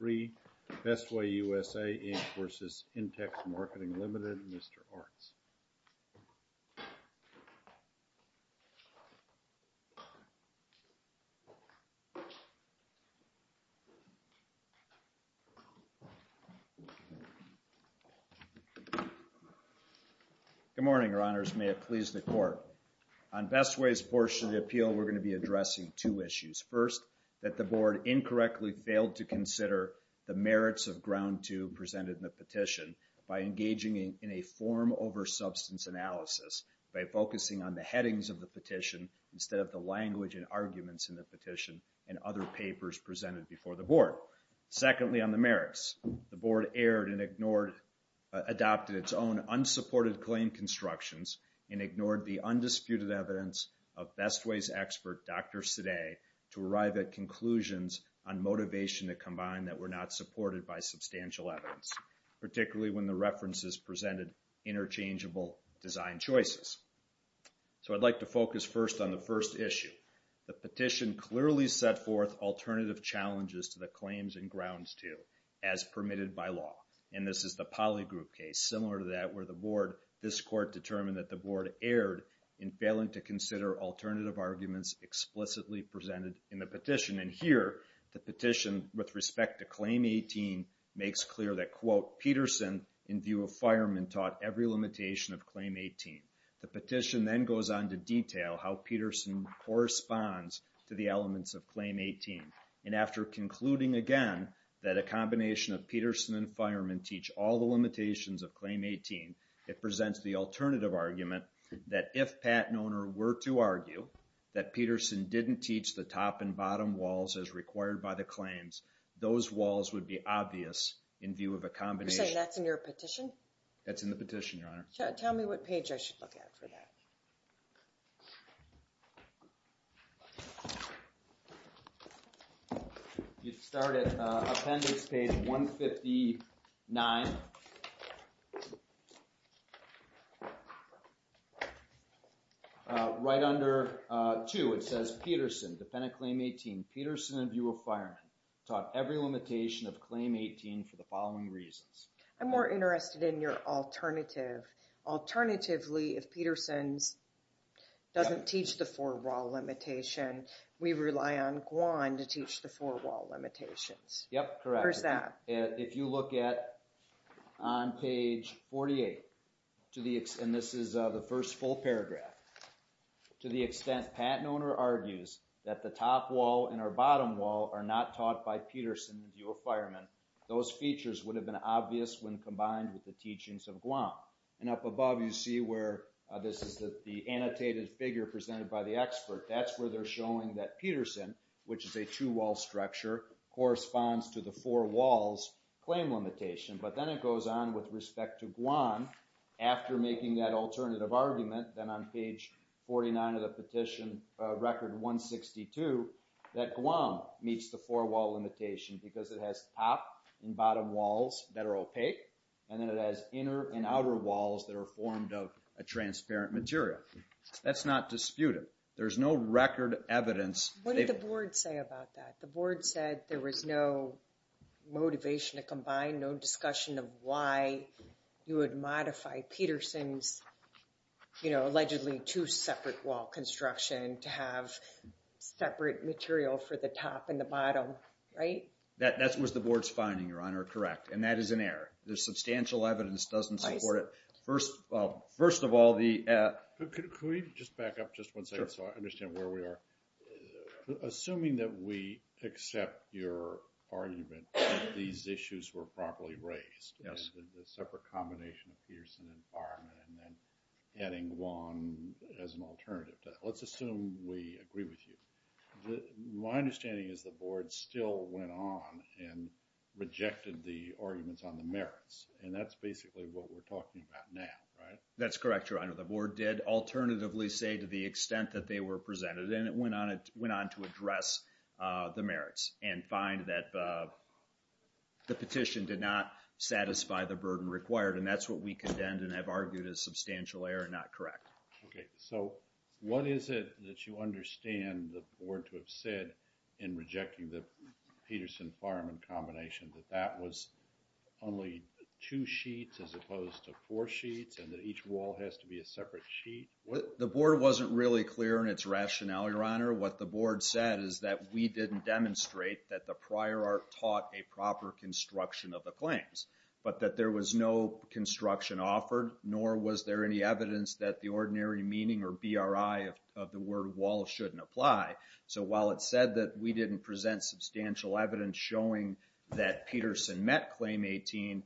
Good morning, Your Honors. May it please the Court. On Bestway's portion of the appeal, we're going to be addressing two issues. First, that the Board incorrectly failed to consider the merits of Ground Two presented in the petition by engaging in a form over substance analysis by focusing on the headings of the petition instead of the language and arguments in the petition and other papers presented before the Board. Secondly, on the merits, the Board erred and ignored, adopted its own unsupported claim and constructions and ignored the undisputed evidence of Bestway's expert, Dr. Sadeh, to arrive at conclusions on motivation to combine that were not supported by substantial evidence, particularly when the references presented interchangeable design choices. So I'd like to focus first on the first issue. The petition clearly set forth alternative challenges to the claims in Ground Two as permitted by law. And this is the Poly Group case, similar to that where the Board, this Court determined that the Board erred in failing to consider alternative arguments explicitly presented in the petition. And here, the petition with respect to Claim 18 makes clear that, quote, Peterson, in view of Fireman, taught every limitation of Claim 18. The petition then goes on to detail how Peterson corresponds to the elements of Claim 18. And after concluding, again, that a combination of Peterson and Fireman teach all the limitations of Claim 18, it presents the alternative argument that if Pat and Owner were to argue that Peterson didn't teach the top and bottom walls as required by the claims, those walls would be obvious in view of a combination. You're saying that's in your petition? That's in the petition, Your Honor. Tell me what page I should look at for that. You start at Appendix Page 159. Right under 2, it says, Peterson, dependent Claim 18, Peterson, in view of Fireman, taught every limitation of Claim 18 for the following reasons. I'm more interested in your alternative. Alternatively, if Peterson doesn't teach the four-wall limitation, we rely on Guand to teach the four-wall limitations. Yep, correct. Or is that? If you look at on page 48, and this is the first full paragraph, to the extent Pat and Owner argues that the top wall and our bottom wall are not taught by Peterson in view of Fireman, those features would have been obvious when combined with the teachings of Guand. And up above, you see where this is the annotated figure presented by the expert. That's where they're showing that Peterson, which is a two-wall structure, corresponds to the four-walls claim limitation. But then it goes on with respect to Guand, after making that alternative argument, then on page 49 of the petition, Record 162, that Guand meets the four-wall limitation because it has top and bottom walls that are opaque, and then it has inner and outer walls that are formed of a transparent material. That's not disputed. There's no record evidence. What did the board say about that? The board said there was no motivation to combine, no discussion of why you would modify Peterson's, you know, allegedly two separate wall construction to have separate material for the top and the bottom, right? That was the board's finding, Your Honor, correct. And that is an error. The substantial evidence doesn't support it. First of all, the... Could we just back up just one second so I understand where we are? Assuming that we accept your argument that these issues were properly raised, the separate combination of Peterson and Farman, and then adding Guand as an alternative to that. Let's assume we agree with you. My understanding is the board still went on and rejected the arguments on the merits, and that's basically what we're talking about now, right? That's correct, Your Honor. The board did alternatively say to the extent that they were presented, and it went on to address the merits and find that the petition did not satisfy the burden required, and that's what we contend and have argued as substantial error and not correct. Okay. So what is it that you understand the board to have said in rejecting the Peterson-Farman combination, that that was only two sheets as opposed to four sheets, and that each wall has to be a separate sheet? The board wasn't really clear in its rationale, Your Honor. What the board said is that we didn't demonstrate that the prior art taught a proper construction of the claims, but that there was no construction offered, nor was there any evidence that the ordinary meaning or BRI of the word wall shouldn't apply. So while it said that we didn't present substantial evidence showing that Peterson met Claim 18,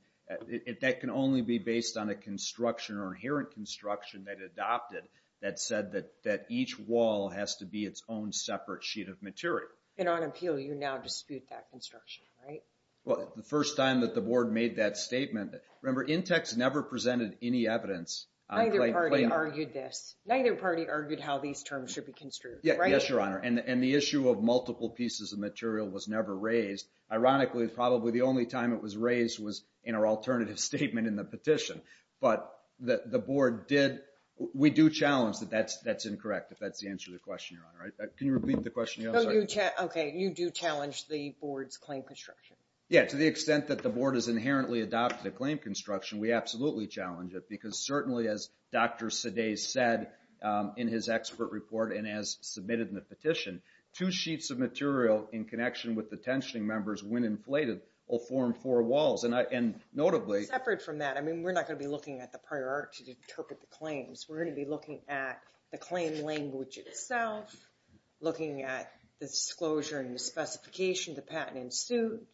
that can only be based on a construction or inherent construction that adopted that said that each wall has to be its own separate sheet of material. And on appeal, you now dispute that construction, right? Well, the first time that the board made that statement, remember, INTEX never presented any evidence. Neither party argued this. Neither party argued how these terms should be construed, right? Yes, Your Honor. And the issue of multiple pieces of material was never raised. Ironically, probably the only time it was raised was in our alternative statement in the petition. But the board did... We do challenge that that's incorrect, if that's the answer to the question, Your Honor. Can you repeat the question, Your Honor? Okay, you do challenge the board's claim construction. Yeah, to the extent that the board has inherently adopted a claim construction, we absolutely challenge it, because certainly, as Dr. Seday said in his expert report and as submitted in the petition, two sheets of material in connection with the tensioning members, when inflated, will form four walls. And notably... Separate from that, I mean, we're not going to be looking at the prior art to interpret the claims. We're going to be looking at the claim language itself, looking at the disclosure and the specification of the patent in suit.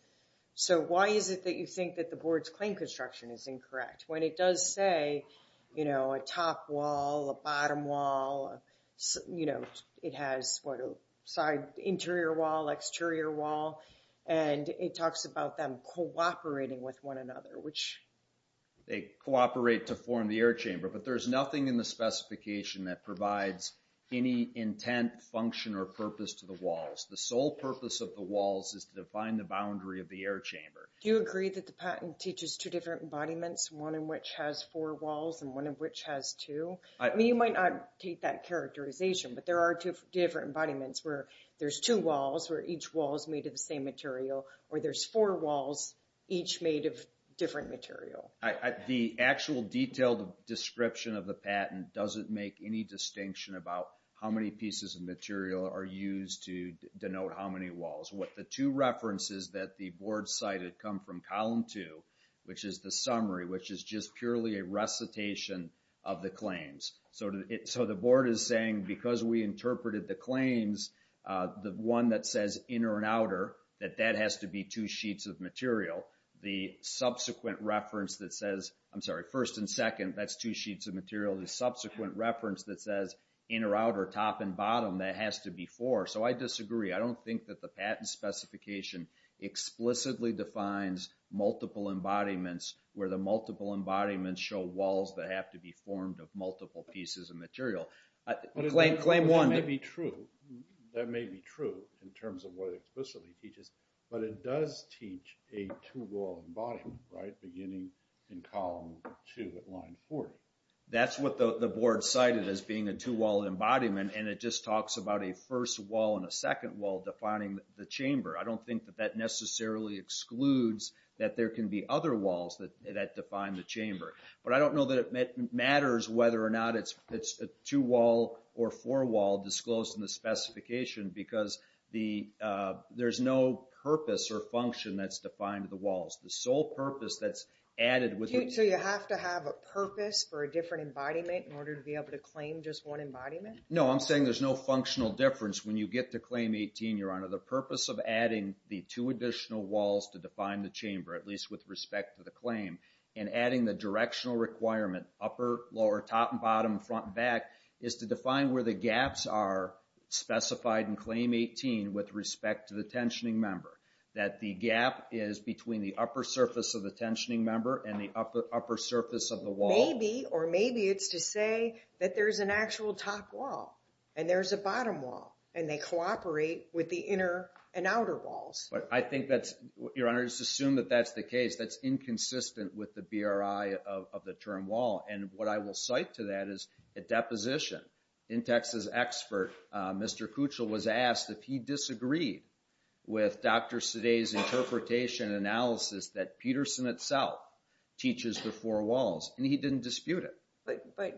So why is it that you think that the board's claim construction is incorrect when it does say, you know, a top wall, a bottom wall, you know, it has, what, a side interior wall, exterior wall, and it talks about them cooperating with one another, which... They cooperate to form the air chamber, but there's nothing in the specification that provides any intent, function, or purpose to the walls. The sole purpose of the walls is to define the boundary of the air chamber. Do you agree that the patent teaches two different embodiments, one in which has four walls and one in which has two? I mean, you might not take that characterization, but there are two different embodiments where there's two walls, where each wall is made of the same material, or there's four walls, each made of different material. The actual detailed description of the patent doesn't make any distinction about how many pieces of material are used to denote how many walls. What the two references that the board cited come from column two, which is the summary, which is just purely a recitation of the claims. So the board is saying because we interpreted the claims, the one that says inner and outer, that that has to be two sheets of material. The subsequent reference that says, I'm sorry, first and second, that's two sheets of material. The subsequent reference that says inner, outer, top, and bottom, that has to be four. So I disagree. I don't think that the patent specification explicitly defines multiple embodiments where the multiple embodiments show walls that have to be formed of multiple pieces of material. Claim one. That may be true in terms of what it explicitly teaches, but it does teach a two-wall embodiment, beginning in column two at line 40. That's what the board cited as being a two-wall embodiment, and it just talks about a first wall and a second wall defining the chamber. I don't think that that necessarily excludes that there can be other walls that define the chamber. But I don't know that it matters whether or not it's a two-wall or four-wall disclosed in the specification, because there's no purpose or function that's defined in the walls. The sole purpose that's added with the... So you have to have a purpose for a different embodiment in order to be able to claim just one embodiment? No, I'm saying there's no functional difference when you get to claim 18, Your Honor. The purpose of adding the two additional walls to define the chamber, at least with respect to the claim, and adding the directional requirement, upper, lower, top and bottom, front and back, is to define where the gaps are specified in claim 18 with respect to the tensioning member. That the gap is between the upper surface of the tensioning member and the upper surface of the wall. Maybe, or maybe it's to say that there's an actual top wall, and there's a bottom wall, and they cooperate with the inner and outer walls. But I think that's, Your Honor, just assume that that's the case. That's inconsistent with the BRI of the term wall, and what I will cite to that is a deposition. In Texas Expert, Mr. Kuchel was asked if he disagreed with Dr. Sade's interpretation and analysis that Peterson itself teaches the four walls, and he didn't dispute it. But,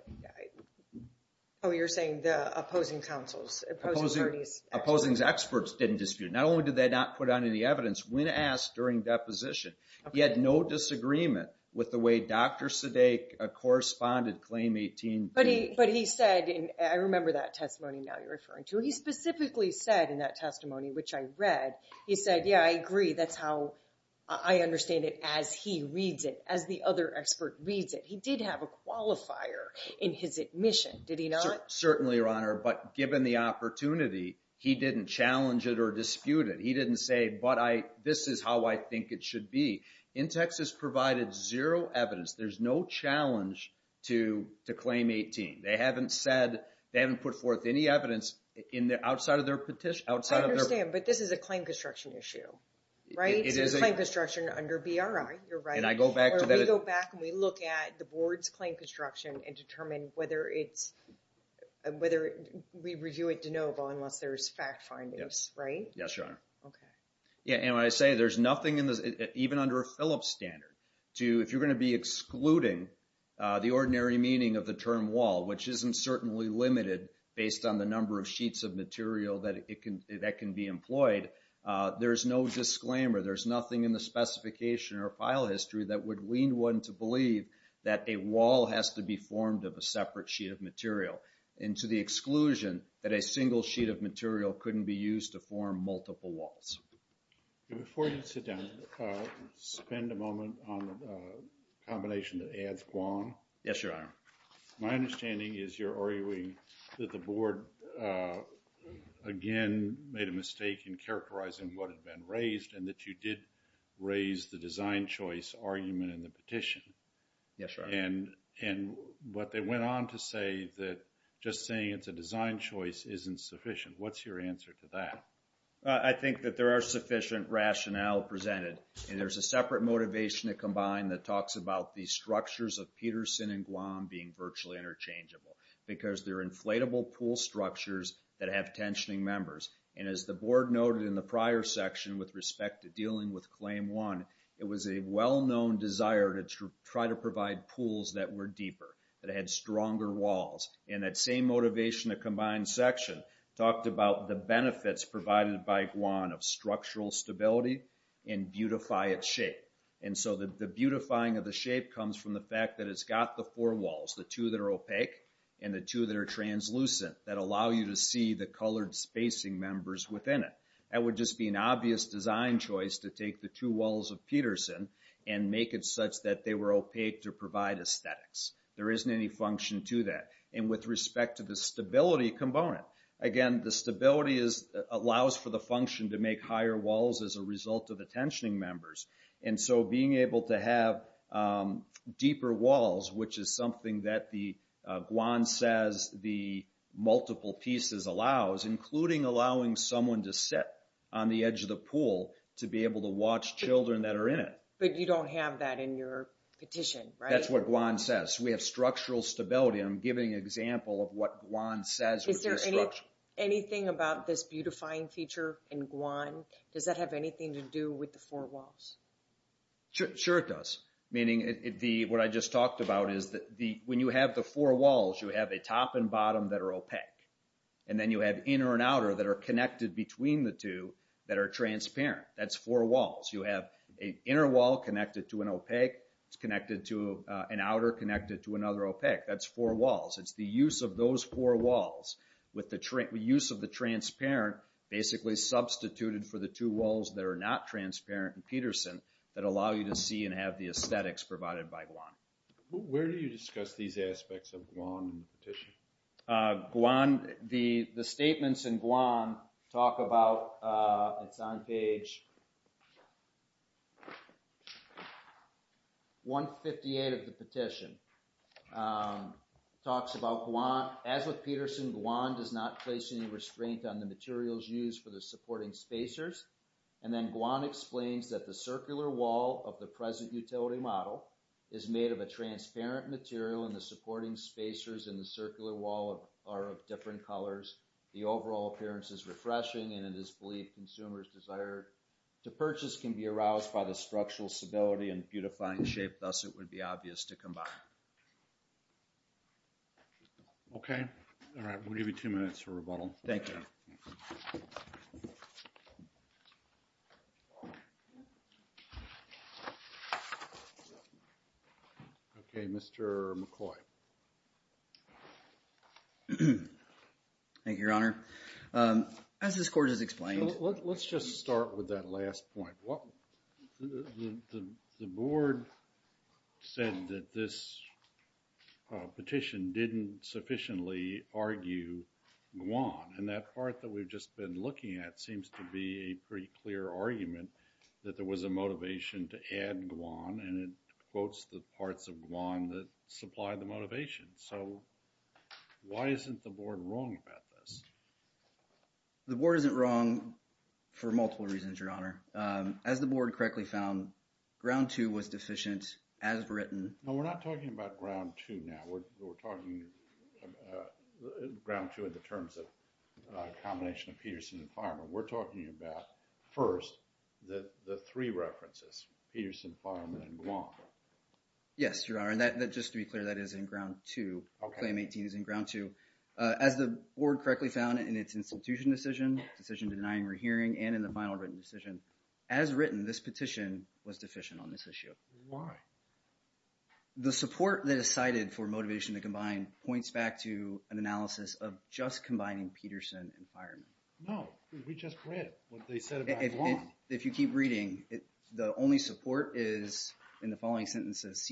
oh, you're saying the opposing counsels, opposing parties. Opposing experts didn't dispute. Not only did they not put on any evidence, when asked during deposition, he had no disagreement with the way Dr. Sade corresponded claim 18. But he said, and I remember that testimony now you're referring to, he specifically said in that testimony, which I read, he said, yeah, I agree. That's how I understand it as he reads it, as the other expert reads it. He did have a qualifier in his admission, did he not? Certainly, Your Honor, but given the opportunity, he didn't challenge it or dispute it. He didn't say, but this is how I think it should be. In Texas provided zero evidence. There's no challenge to claim 18. They haven't said, they haven't put forth any evidence outside of their petition. I understand, but this is a claim construction issue, right? It is a claim construction under BRI, you're right. And I go back to that. Or we go back and we look at the board's claim construction and determine whether it's, whether we review it de novo unless there's fact findings, right? Yes, Your Honor. Okay. Yeah, and when I say there's nothing in this, even under a Phillips standard, if you're going to be excluding the ordinary meaning of the term wall, which isn't certainly limited based on the number of sheets of material that can be employed, there's no disclaimer. There's nothing in the specification or file history that would wean one to believe that a wall has to be formed of a separate sheet of material. And to the exclusion that a single sheet of material couldn't be used to form multiple walls. Before you sit down, spend a moment on a combination that adds guam. Yes, Your Honor. My understanding is you're arguing that the board, again, made a mistake in characterizing what had been raised and that you did raise the design choice argument in the petition. Yes, Your Honor. And what they went on to say that just saying it's a design choice isn't sufficient. What's your answer to that? I think that there are sufficient rationale presented, and there's a separate motivation to combine that talks about the structures of Peterson and Guam being virtually interchangeable because they're inflatable pool structures that have tensioning members. And as the board noted in the prior section with respect to dealing with Claim 1, it was a well-known desire to try to provide pools that were deeper, that had stronger walls. And that same motivation to combine section talked about the benefits provided by Guam of structural stability and beautify its shape. And so the beautifying of the shape comes from the fact that it's got the four walls, the two that are opaque and the two that are translucent, that allow you to see the colored spacing members within it. That would just be an obvious design choice to take the two walls of Peterson and make it such that they were opaque to provide aesthetics. There isn't any function to that. And with respect to the stability component, again, the stability allows for the function to make higher walls as a result of the tensioning members. And so being able to have deeper walls, which is something that the Guam says the multiple pieces allows, including allowing someone to sit on the edge of the pool to be able to watch children that are in it. But you don't have that in your petition, right? That's what Guam says. We have structural stability, and I'm giving an example of what Guam says. Is there anything about this beautifying feature in Guam, does that have anything to do with the four walls? Sure it does. Meaning what I just talked about is when you have the four walls, you have a top and bottom that are opaque. And then you have inner and outer that are connected between the two that are transparent. That's four walls. You have an inner wall connected to an opaque. It's connected to an outer connected to another opaque. That's four walls. It's the use of those four walls with the use of the transparent basically substituted for the two walls that are not transparent in Peterson that allow you to see and have the aesthetics provided by Guam. Guam, the statements in Guam talk about, it's on page 158 of the petition. Talks about Guam, as with Peterson, Guam does not place any restraint on the materials used for the supporting spacers. And then Guam explains that the circular wall of the present utility model is made of a transparent material and the supporting spacers in the circular wall are of different colors. The overall appearance is refreshing and it is believed consumers desire to purchase can be aroused by the structural stability and beautifying shape, thus it would be obvious to combine. Okay. All right, we'll give you two minutes for rebuttal. Thank you. Okay. Mr. McCoy. Thank you, Your Honor. As this court has explained. Let's just start with that last point. The board said that this petition didn't sufficiently argue Guam. And that part that we've just been looking at seems to be a pretty clear argument that there was a motivation to add Guam and it quotes the parts of Guam that supply the motivation. So, why isn't the board wrong about this? The board isn't wrong for multiple reasons, Your Honor. As the board correctly found, ground two was deficient as written. No, we're not talking about ground two now. We're talking ground two in the terms of combination of Peterson and Farmer. We're talking about first the three references, Peterson, Farmer, and Guam. Yes, Your Honor. And just to be clear, that is in ground two. Claim 18 is in ground two. As the board correctly found in its institution decision, decision denying rehearing, and in the final written decision, as written, this petition was deficient on this issue. Why? The support that is cited for motivation to combine points back to an analysis of just combining Peterson and Fireman. No, because we just read what they said about Guam. If you keep reading, the only support is in the following sentences,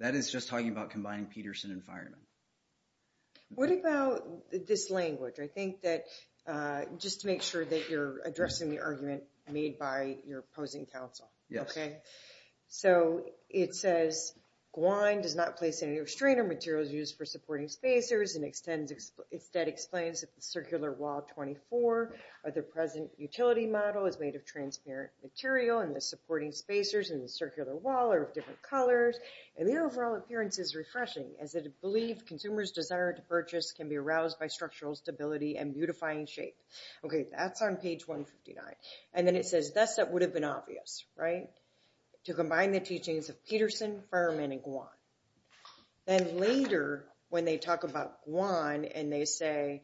That is just talking about combining Peterson and Fireman. What about this language? I think that just to make sure that you're addressing the argument made by your opposing counsel. Yes. Okay, so it says, Guam does not place any restrainer materials used for supporting spacers and instead explains that the circular wall 24 of the present utility model is made of transparent material and the supporting spacers in the circular wall are of different colors, and the overall appearance is refreshing, as it believed consumers' desire to purchase can be aroused by structural stability and beautifying shape. Okay, that's on page 159. And then it says, thus that would have been obvious, right, to combine the teachings of Peterson, Fireman, and Guam. Then later, when they talk about Guam and they say,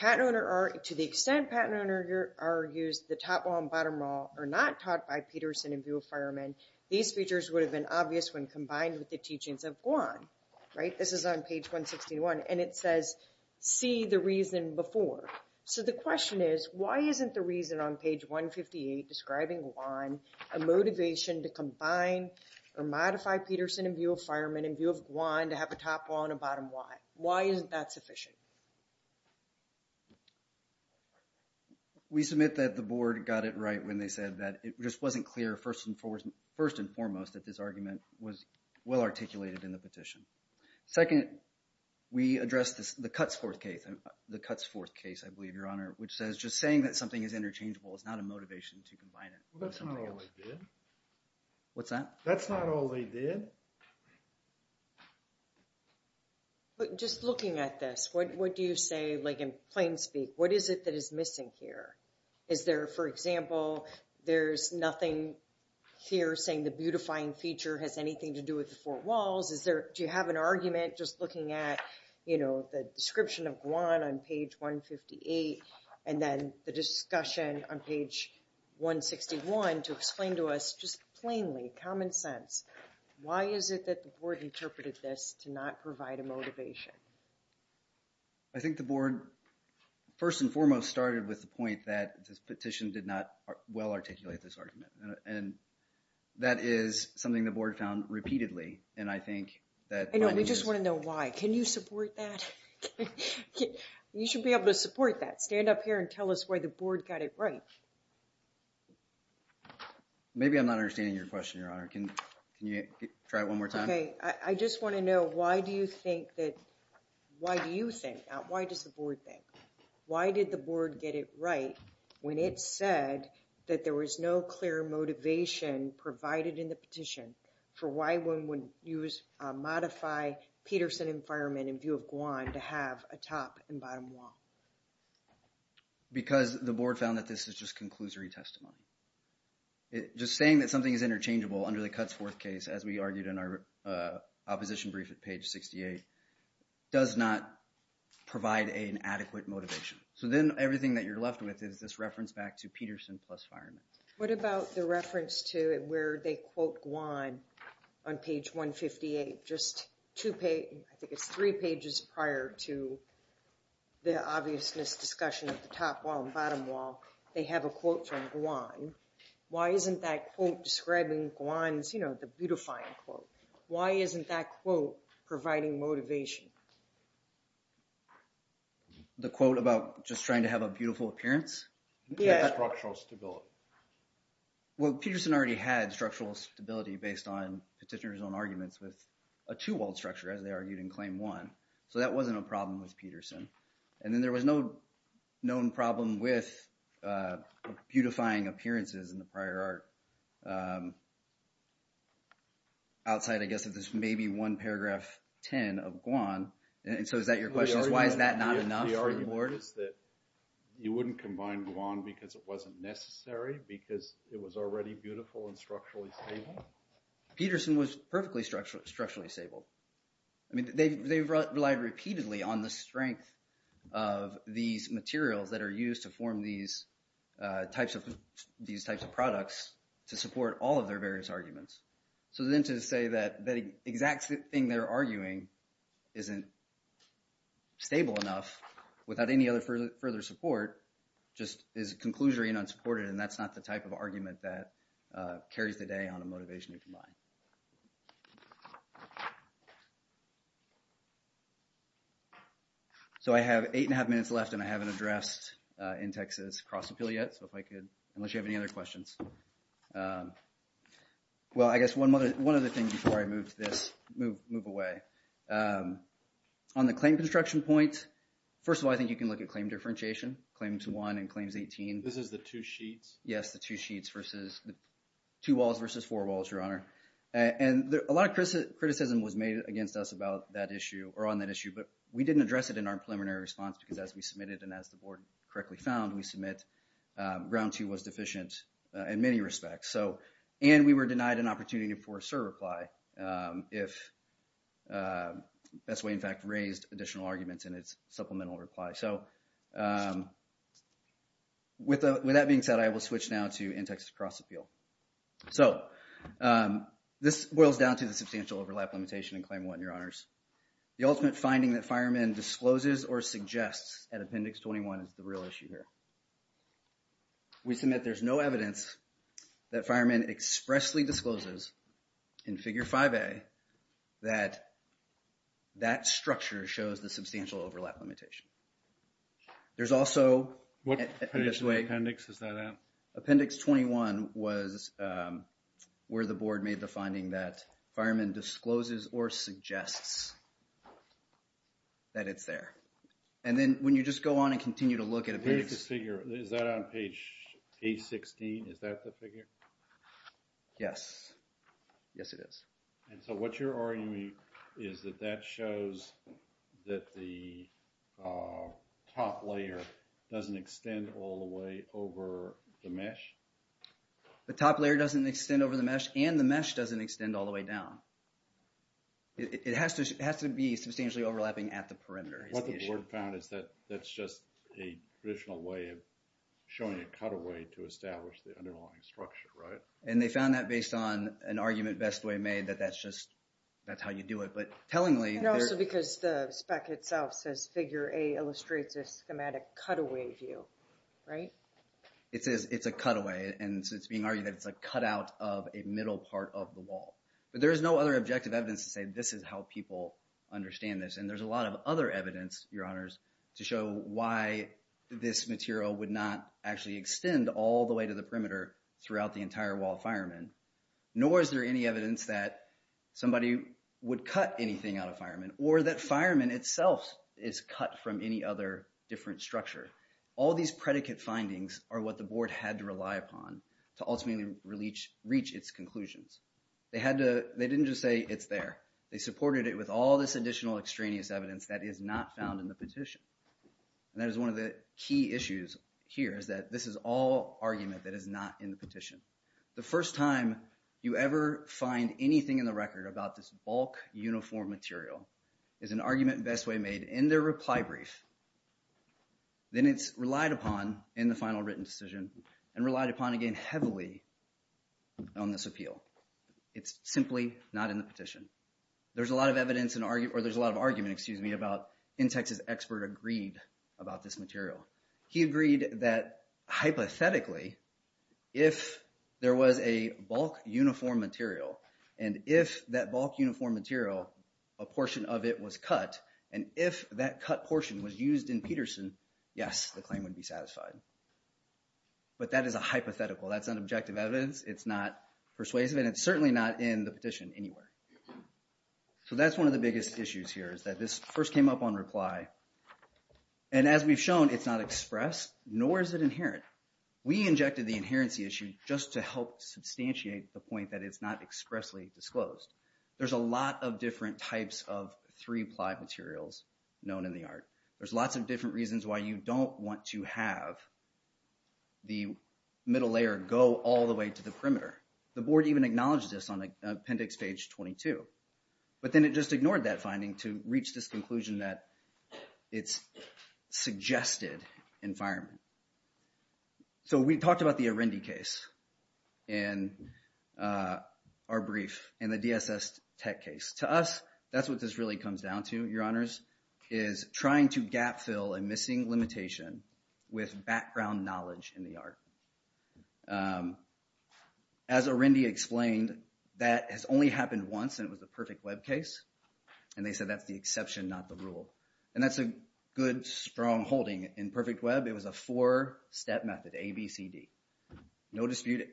to the extent patent owner argues the top law and bottom law are not taught by Peterson in view of Fireman, these features would have been obvious when combined with the teachings of Guam. Right? This is on page 161. And it says, see the reason before. So the question is, why isn't the reason on page 158 describing Guam, a motivation to combine or modify Peterson in view of Fireman in view of Guam to have a top law and a bottom law? Why isn't that sufficient? Okay. We submit that the board got it right when they said that it just wasn't clear, first and foremost, that this argument was well-articulated in the petition. Second, we addressed the Cutsforth case, I believe, Your Honor, which says just saying that something is interchangeable is not a motivation to combine it. Well, that's not all they did. What's that? That's not all they did. But just looking at this, what do you say, like in plain speak, what is it that is missing here? Is there, for example, there's nothing here saying the beautifying feature has anything to do with the four walls? Do you have an argument just looking at, you know, the description of Guam on page 158, and then the discussion on page 161 to explain to us just plainly, common sense, why is it that the board interpreted this to not provide a motivation? I think the board, first and foremost, started with the point that this petition did not well-articulate this argument. And that is something the board found repeatedly. And I think that... I know, and we just want to know why. Can you support that? You should be able to support that. Stand up here and tell us why the board got it right. Maybe I'm not understanding your question, Your Honor. Can you try it one more time? Okay. I just want to know why do you think that, why do you think, not why does the board think, why did the board get it right when it said that there was no clear motivation provided in the petition for why one would use, modify Peterson and Fireman in view of Guam to have a top and bottom wall? Because the board found that this is just conclusory testimony. Just saying that something is interchangeable under the Cuts Fourth Case, as we argued in our opposition brief at page 68, does not provide an adequate motivation. So then everything that you're left with is this reference back to Peterson plus Fireman. What about the reference to where they quote Guam on page 158? I think it's three pages prior to the obviousness discussion of the top wall and bottom wall. They have a quote from Guam. Why isn't that quote describing Guam's, you know, the beautifying quote? Why isn't that quote providing motivation? The quote about just trying to have a beautiful appearance? Yes. Structural stability. Well, a two-walled structure, as they argued in Claim One. So that wasn't a problem with Peterson. And then there was no known problem with beautifying appearances in the prior art outside, I guess, of this maybe one paragraph ten of Guam. And so is that your question? Why is that not enough for the board? The argument is that you wouldn't combine Guam because it wasn't necessary, because it was already beautiful and structurally stable? Peterson was perfectly structurally stable. I mean, they relied repeatedly on the strength of these materials that are used to form these types of products to support all of their various arguments. So then to say that exact thing they're arguing isn't stable enough without any other further support just is a conclusionary and unsupported, and that's not the type of argument that carries the day on a motivation you combine. So I have eight and a half minutes left, and I haven't addressed in Texas cross-appeal yet. So if I could, unless you have any other questions. Well, I guess one other thing before I move to this, move away. On the claim construction point, first of all, I think you can look at claim differentiation, Claims One and Claims 18. This is the two sheets? Yes, the two sheets versus the two walls versus four walls, Your Honor. And a lot of criticism was made against us about that issue or on that issue, but we didn't address it in our preliminary response because as we submitted and as the board correctly found, we submit ground two was deficient in many respects. And we were denied an opportunity for a cert reply if Best Way, in fact, raised additional arguments in its supplemental reply. So with that being said, I will switch now to in-Texas cross-appeal. So this boils down to the substantial overlap limitation in Claim One, Your Honors. The ultimate finding that Fireman discloses or suggests at Appendix 21 is the real issue here. We submit there's no evidence that Fireman expressly discloses in Figure 5A that that structure shows the substantial overlap limitation. There's also... What page of the appendix is that on? Appendix 21 was where the board made the finding that Fireman discloses or suggests that it's there. And then when you just go on and continue to look at... Where's the figure? Is that on page 816? Is that the figure? Yes. Yes, it is. And so what you're arguing is that that shows that the top layer doesn't extend all the way over the mesh? The top layer doesn't extend over the mesh and the mesh doesn't extend all the way down. It has to be substantially overlapping at the perimeter. What the board found is that that's just a traditional way of showing a cutaway to establish the underlying structure, right? And they found that based on an argument Bestway made that that's just how you do it. But tellingly... And also because the spec itself says Figure A illustrates a schematic cutaway view, right? It's a cutaway. And so it's being argued that it's a cutout of a middle part of the wall. But there's no other objective evidence to say this is how people understand this. And there's a lot of other evidence, Your Honors, to show why this material would not actually extend all the way to the perimeter throughout the entire wall of firemen. Nor is there any evidence that somebody would cut anything out of firemen or that firemen itself is cut from any other different structure. All these predicate findings are what the board had to rely upon to ultimately reach its conclusions. They didn't just say it's there. They supported it with all this additional extraneous evidence that is not found in the petition. And that is one of the key issues here is that this is all argument that is not in the petition. The first time you ever find anything in the record about this bulk uniform material is an argument Best Way made in their reply brief. Then it's relied upon in the final written decision and relied upon again heavily on this appeal. It's simply not in the petition. There's a lot of argument about... InTex's expert agreed about this material. He agreed that hypothetically if there was a bulk uniform material and if that bulk uniform material, a portion of it was cut and if that cut portion was used in Peterson, yes, the claim would be satisfied. But that is a hypothetical. That's not objective evidence. It's not persuasive and it's certainly not in the petition anywhere. So that's one of the biggest issues here is that this first came up on reply. And as we've shown, it's not expressed, nor is it inherent. We injected the inherency issue just to help substantiate the point that it's not expressly disclosed. There's a lot of different types of three-ply materials known in the art. There's lots of different reasons why you don't want to have the middle layer go all the way to the perimeter. The board even acknowledged this on appendix page 22. But then it just ignored that finding to reach this conclusion that it's suggested environment. So we talked about the Arendi case in our brief and the DSS tech case. To us, that's what this really comes down to, Your Honors, is trying to gap fill a missing limitation with background knowledge in the art. As Arendi explained, that has only happened once and it was the perfect web case. And they said that's the exception, not the rule. And that's a good, strong holding. In perfect web, it was a four-step method, A, B, C, D. No dispute,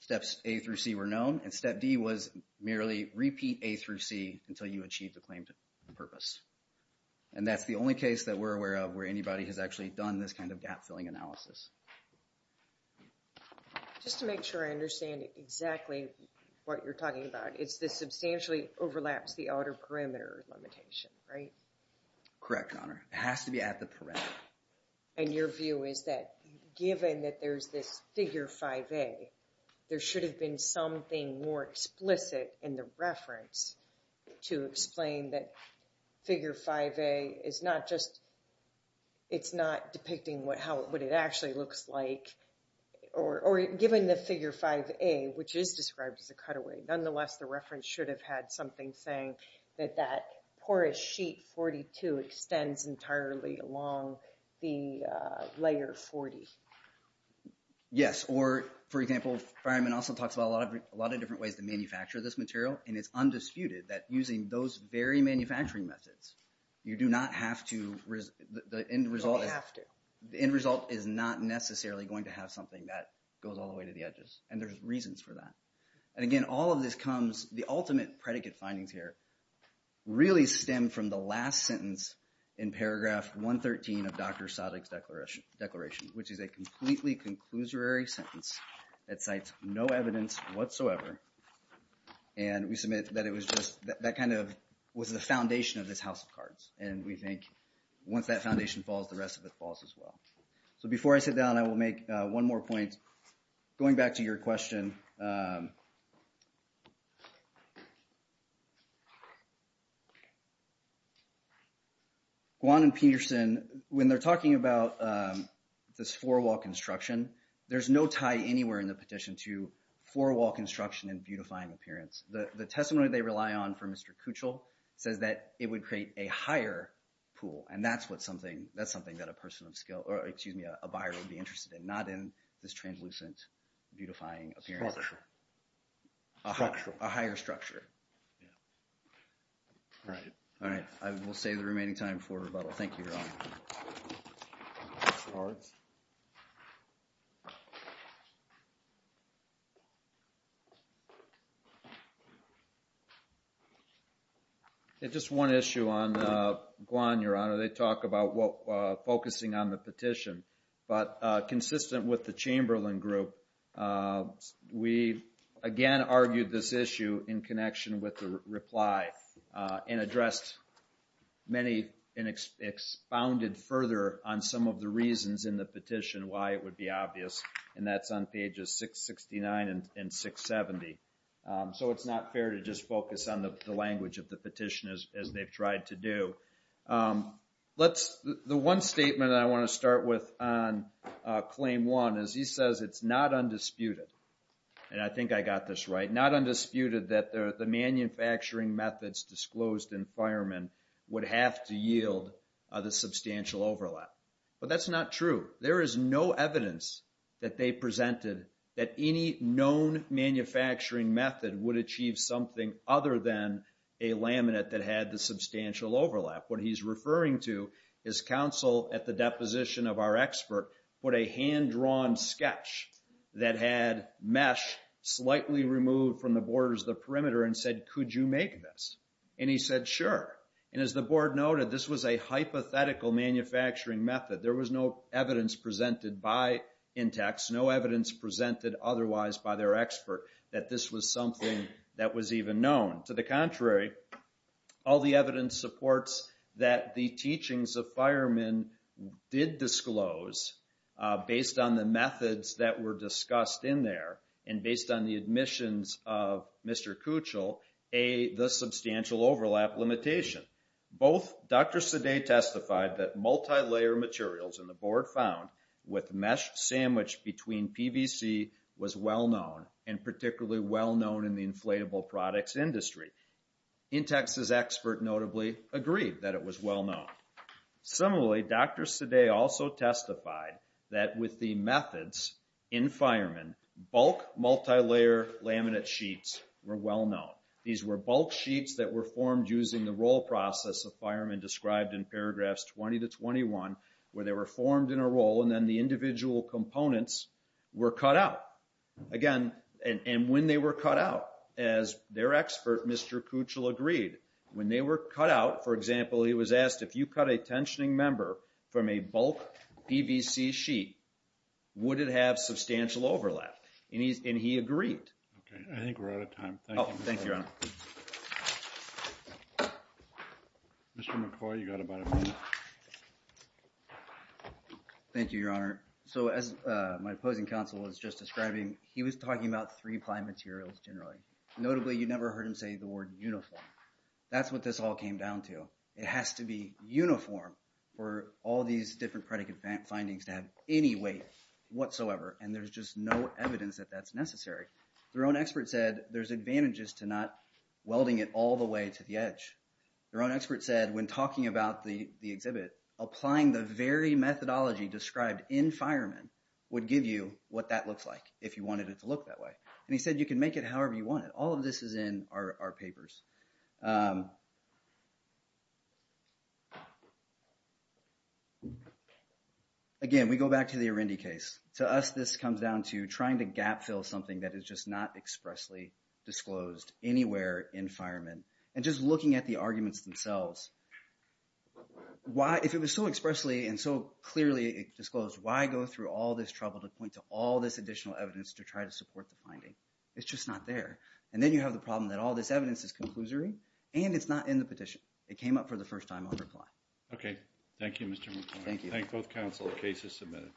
steps A through C were known and step D was merely repeat A through C until you achieved the claimed purpose. And that's the only case that we're aware of where anybody has actually done this kind of gap-filling analysis. Just to make sure I understand exactly what you're talking about. It's the substantially overlaps the outer perimeter limitation, right? Correct, Your Honor. It has to be at the perimeter. And your view is that given that there's this figure 5A, there should have been something more explicit in the reference to explain that figure 5A is not just, it's not depicting what it actually looks like or given the figure 5A, which is described as a cutaway, nonetheless the reference should have had something saying that that porous sheet 42 extends entirely along the layer 40. Yes, or for example, Fireman also talks about a lot of different ways to manufacture this material and it's undisputed that using those very manufacturing methods, you do not have to, the end result is not necessarily going to have something that goes all the way to the edges and there's reasons for that. And again, all of this comes, the ultimate predicate findings here really stem from the last sentence in paragraph 113 of Dr. Sadek's declaration which is a completely conclusory sentence that cites no evidence whatsoever and we submit that it was just, that kind of was the foundation of this house of cards and we think once that foundation falls, the rest of it falls as well. So before I sit down, I will make one more point going back to your question Guan and Peterson, when they're talking about this four wall construction, there's no tie anywhere in the petition to four wall construction and beautifying appearance. The testimony they rely on for Mr. Kuchel says that it would create a higher pool and that's what something, that's something that a person of skill or excuse me, a buyer would be interested in, not in this translucent beautifying appearance. A higher structure. Alright, I will save the remaining time for rebuttal. Thank you, Your Honor. Just one issue on Guan, Your Honor. They talk about focusing on the petition but consistent with the Chamberlain group we again argued this issue in connection with the reply and addressed many and expounded further on some of the reasons in the petition why it would be obvious and that's on pages 669 and 670 so it's not fair to just focus on the language of the petition as they've tried to do. The one statement I want to start with on Claim 1 is he says it's not undisputed, and I think I got this right not undisputed that the manufacturing methods disclosed in Fireman would have to yield the substantial overlap. But that's not true. There is no evidence that they presented that any known manufacturing method would achieve something other than a laminate that had the substantial overlap. What he's referring to is counsel at the deposition of our expert put a hand-drawn sketch that had mesh slightly removed from the borders of the perimeter and said, could you make this? And he said, sure. And as the board noted, this was a hypothetical manufacturing method. There was no evidence presented by Intex, no evidence presented otherwise by their expert that this was something that was even known. To the contrary, all the evidence supports that the teachings of Fireman did disclose based on the methods that were discussed in there and based on the admissions of Mr. Kuchel, the substantial overlap limitation. Both Dr. Sade testified that multilayer materials in the board found with mesh sandwiched between PVC was well-known and particularly well-known in the inflatable products industry. Intex's expert notably agreed that it was well-known. Similarly, Dr. Sade also testified that with the methods in Fireman, bulk multilayer laminate sheets were well-known. These were bulk sheets that were formed using the roll process that Fireman described in paragraphs 20 to 21 where they were formed in a roll and then the individual components were cut out. Again, and when they were cut out, as their expert, Mr. Kuchel, agreed. When they were cut out, for example, he was asked if you cut a tensioning member from a bulk PVC sheet, would it have substantial overlap? And he agreed. Okay, I think we're out of time. Oh, thank you, Your Honor. Mr. McCoy, you got about a minute. Thank you, Your Honor. So as my opposing counsel was just describing, he was talking about three-ply materials generally. Notably, you never heard him say the word uniform. That's what this all came down to. It has to be uniform for all these different predicate findings to have any weight whatsoever. And there's just no evidence that that's necessary. Your own expert said there's advantages to not welding it all the way to the edge. Your own expert said when talking about the exhibit, applying the very methodology described in Fireman would give you what that looks like if you wanted it to look that way. And he said you can make it however you want it. All of this is in our papers. Again, we go back to the Arundi case. To us, this comes down to trying to gap fill something that is just not expressly disclosed anywhere in Fireman. And just looking at the arguments themselves. If it was so expressly and so clearly disclosed, why go through all this trouble to point to all this additional evidence to try to support the finding? It's just not there. And then you have the problem that all this evidence is completely disclosery and it's not in the petition. It came up for the first time on reply. Okay. Thank you, Mr. McClure. Thank you. Thank both counsel. The case is submitted.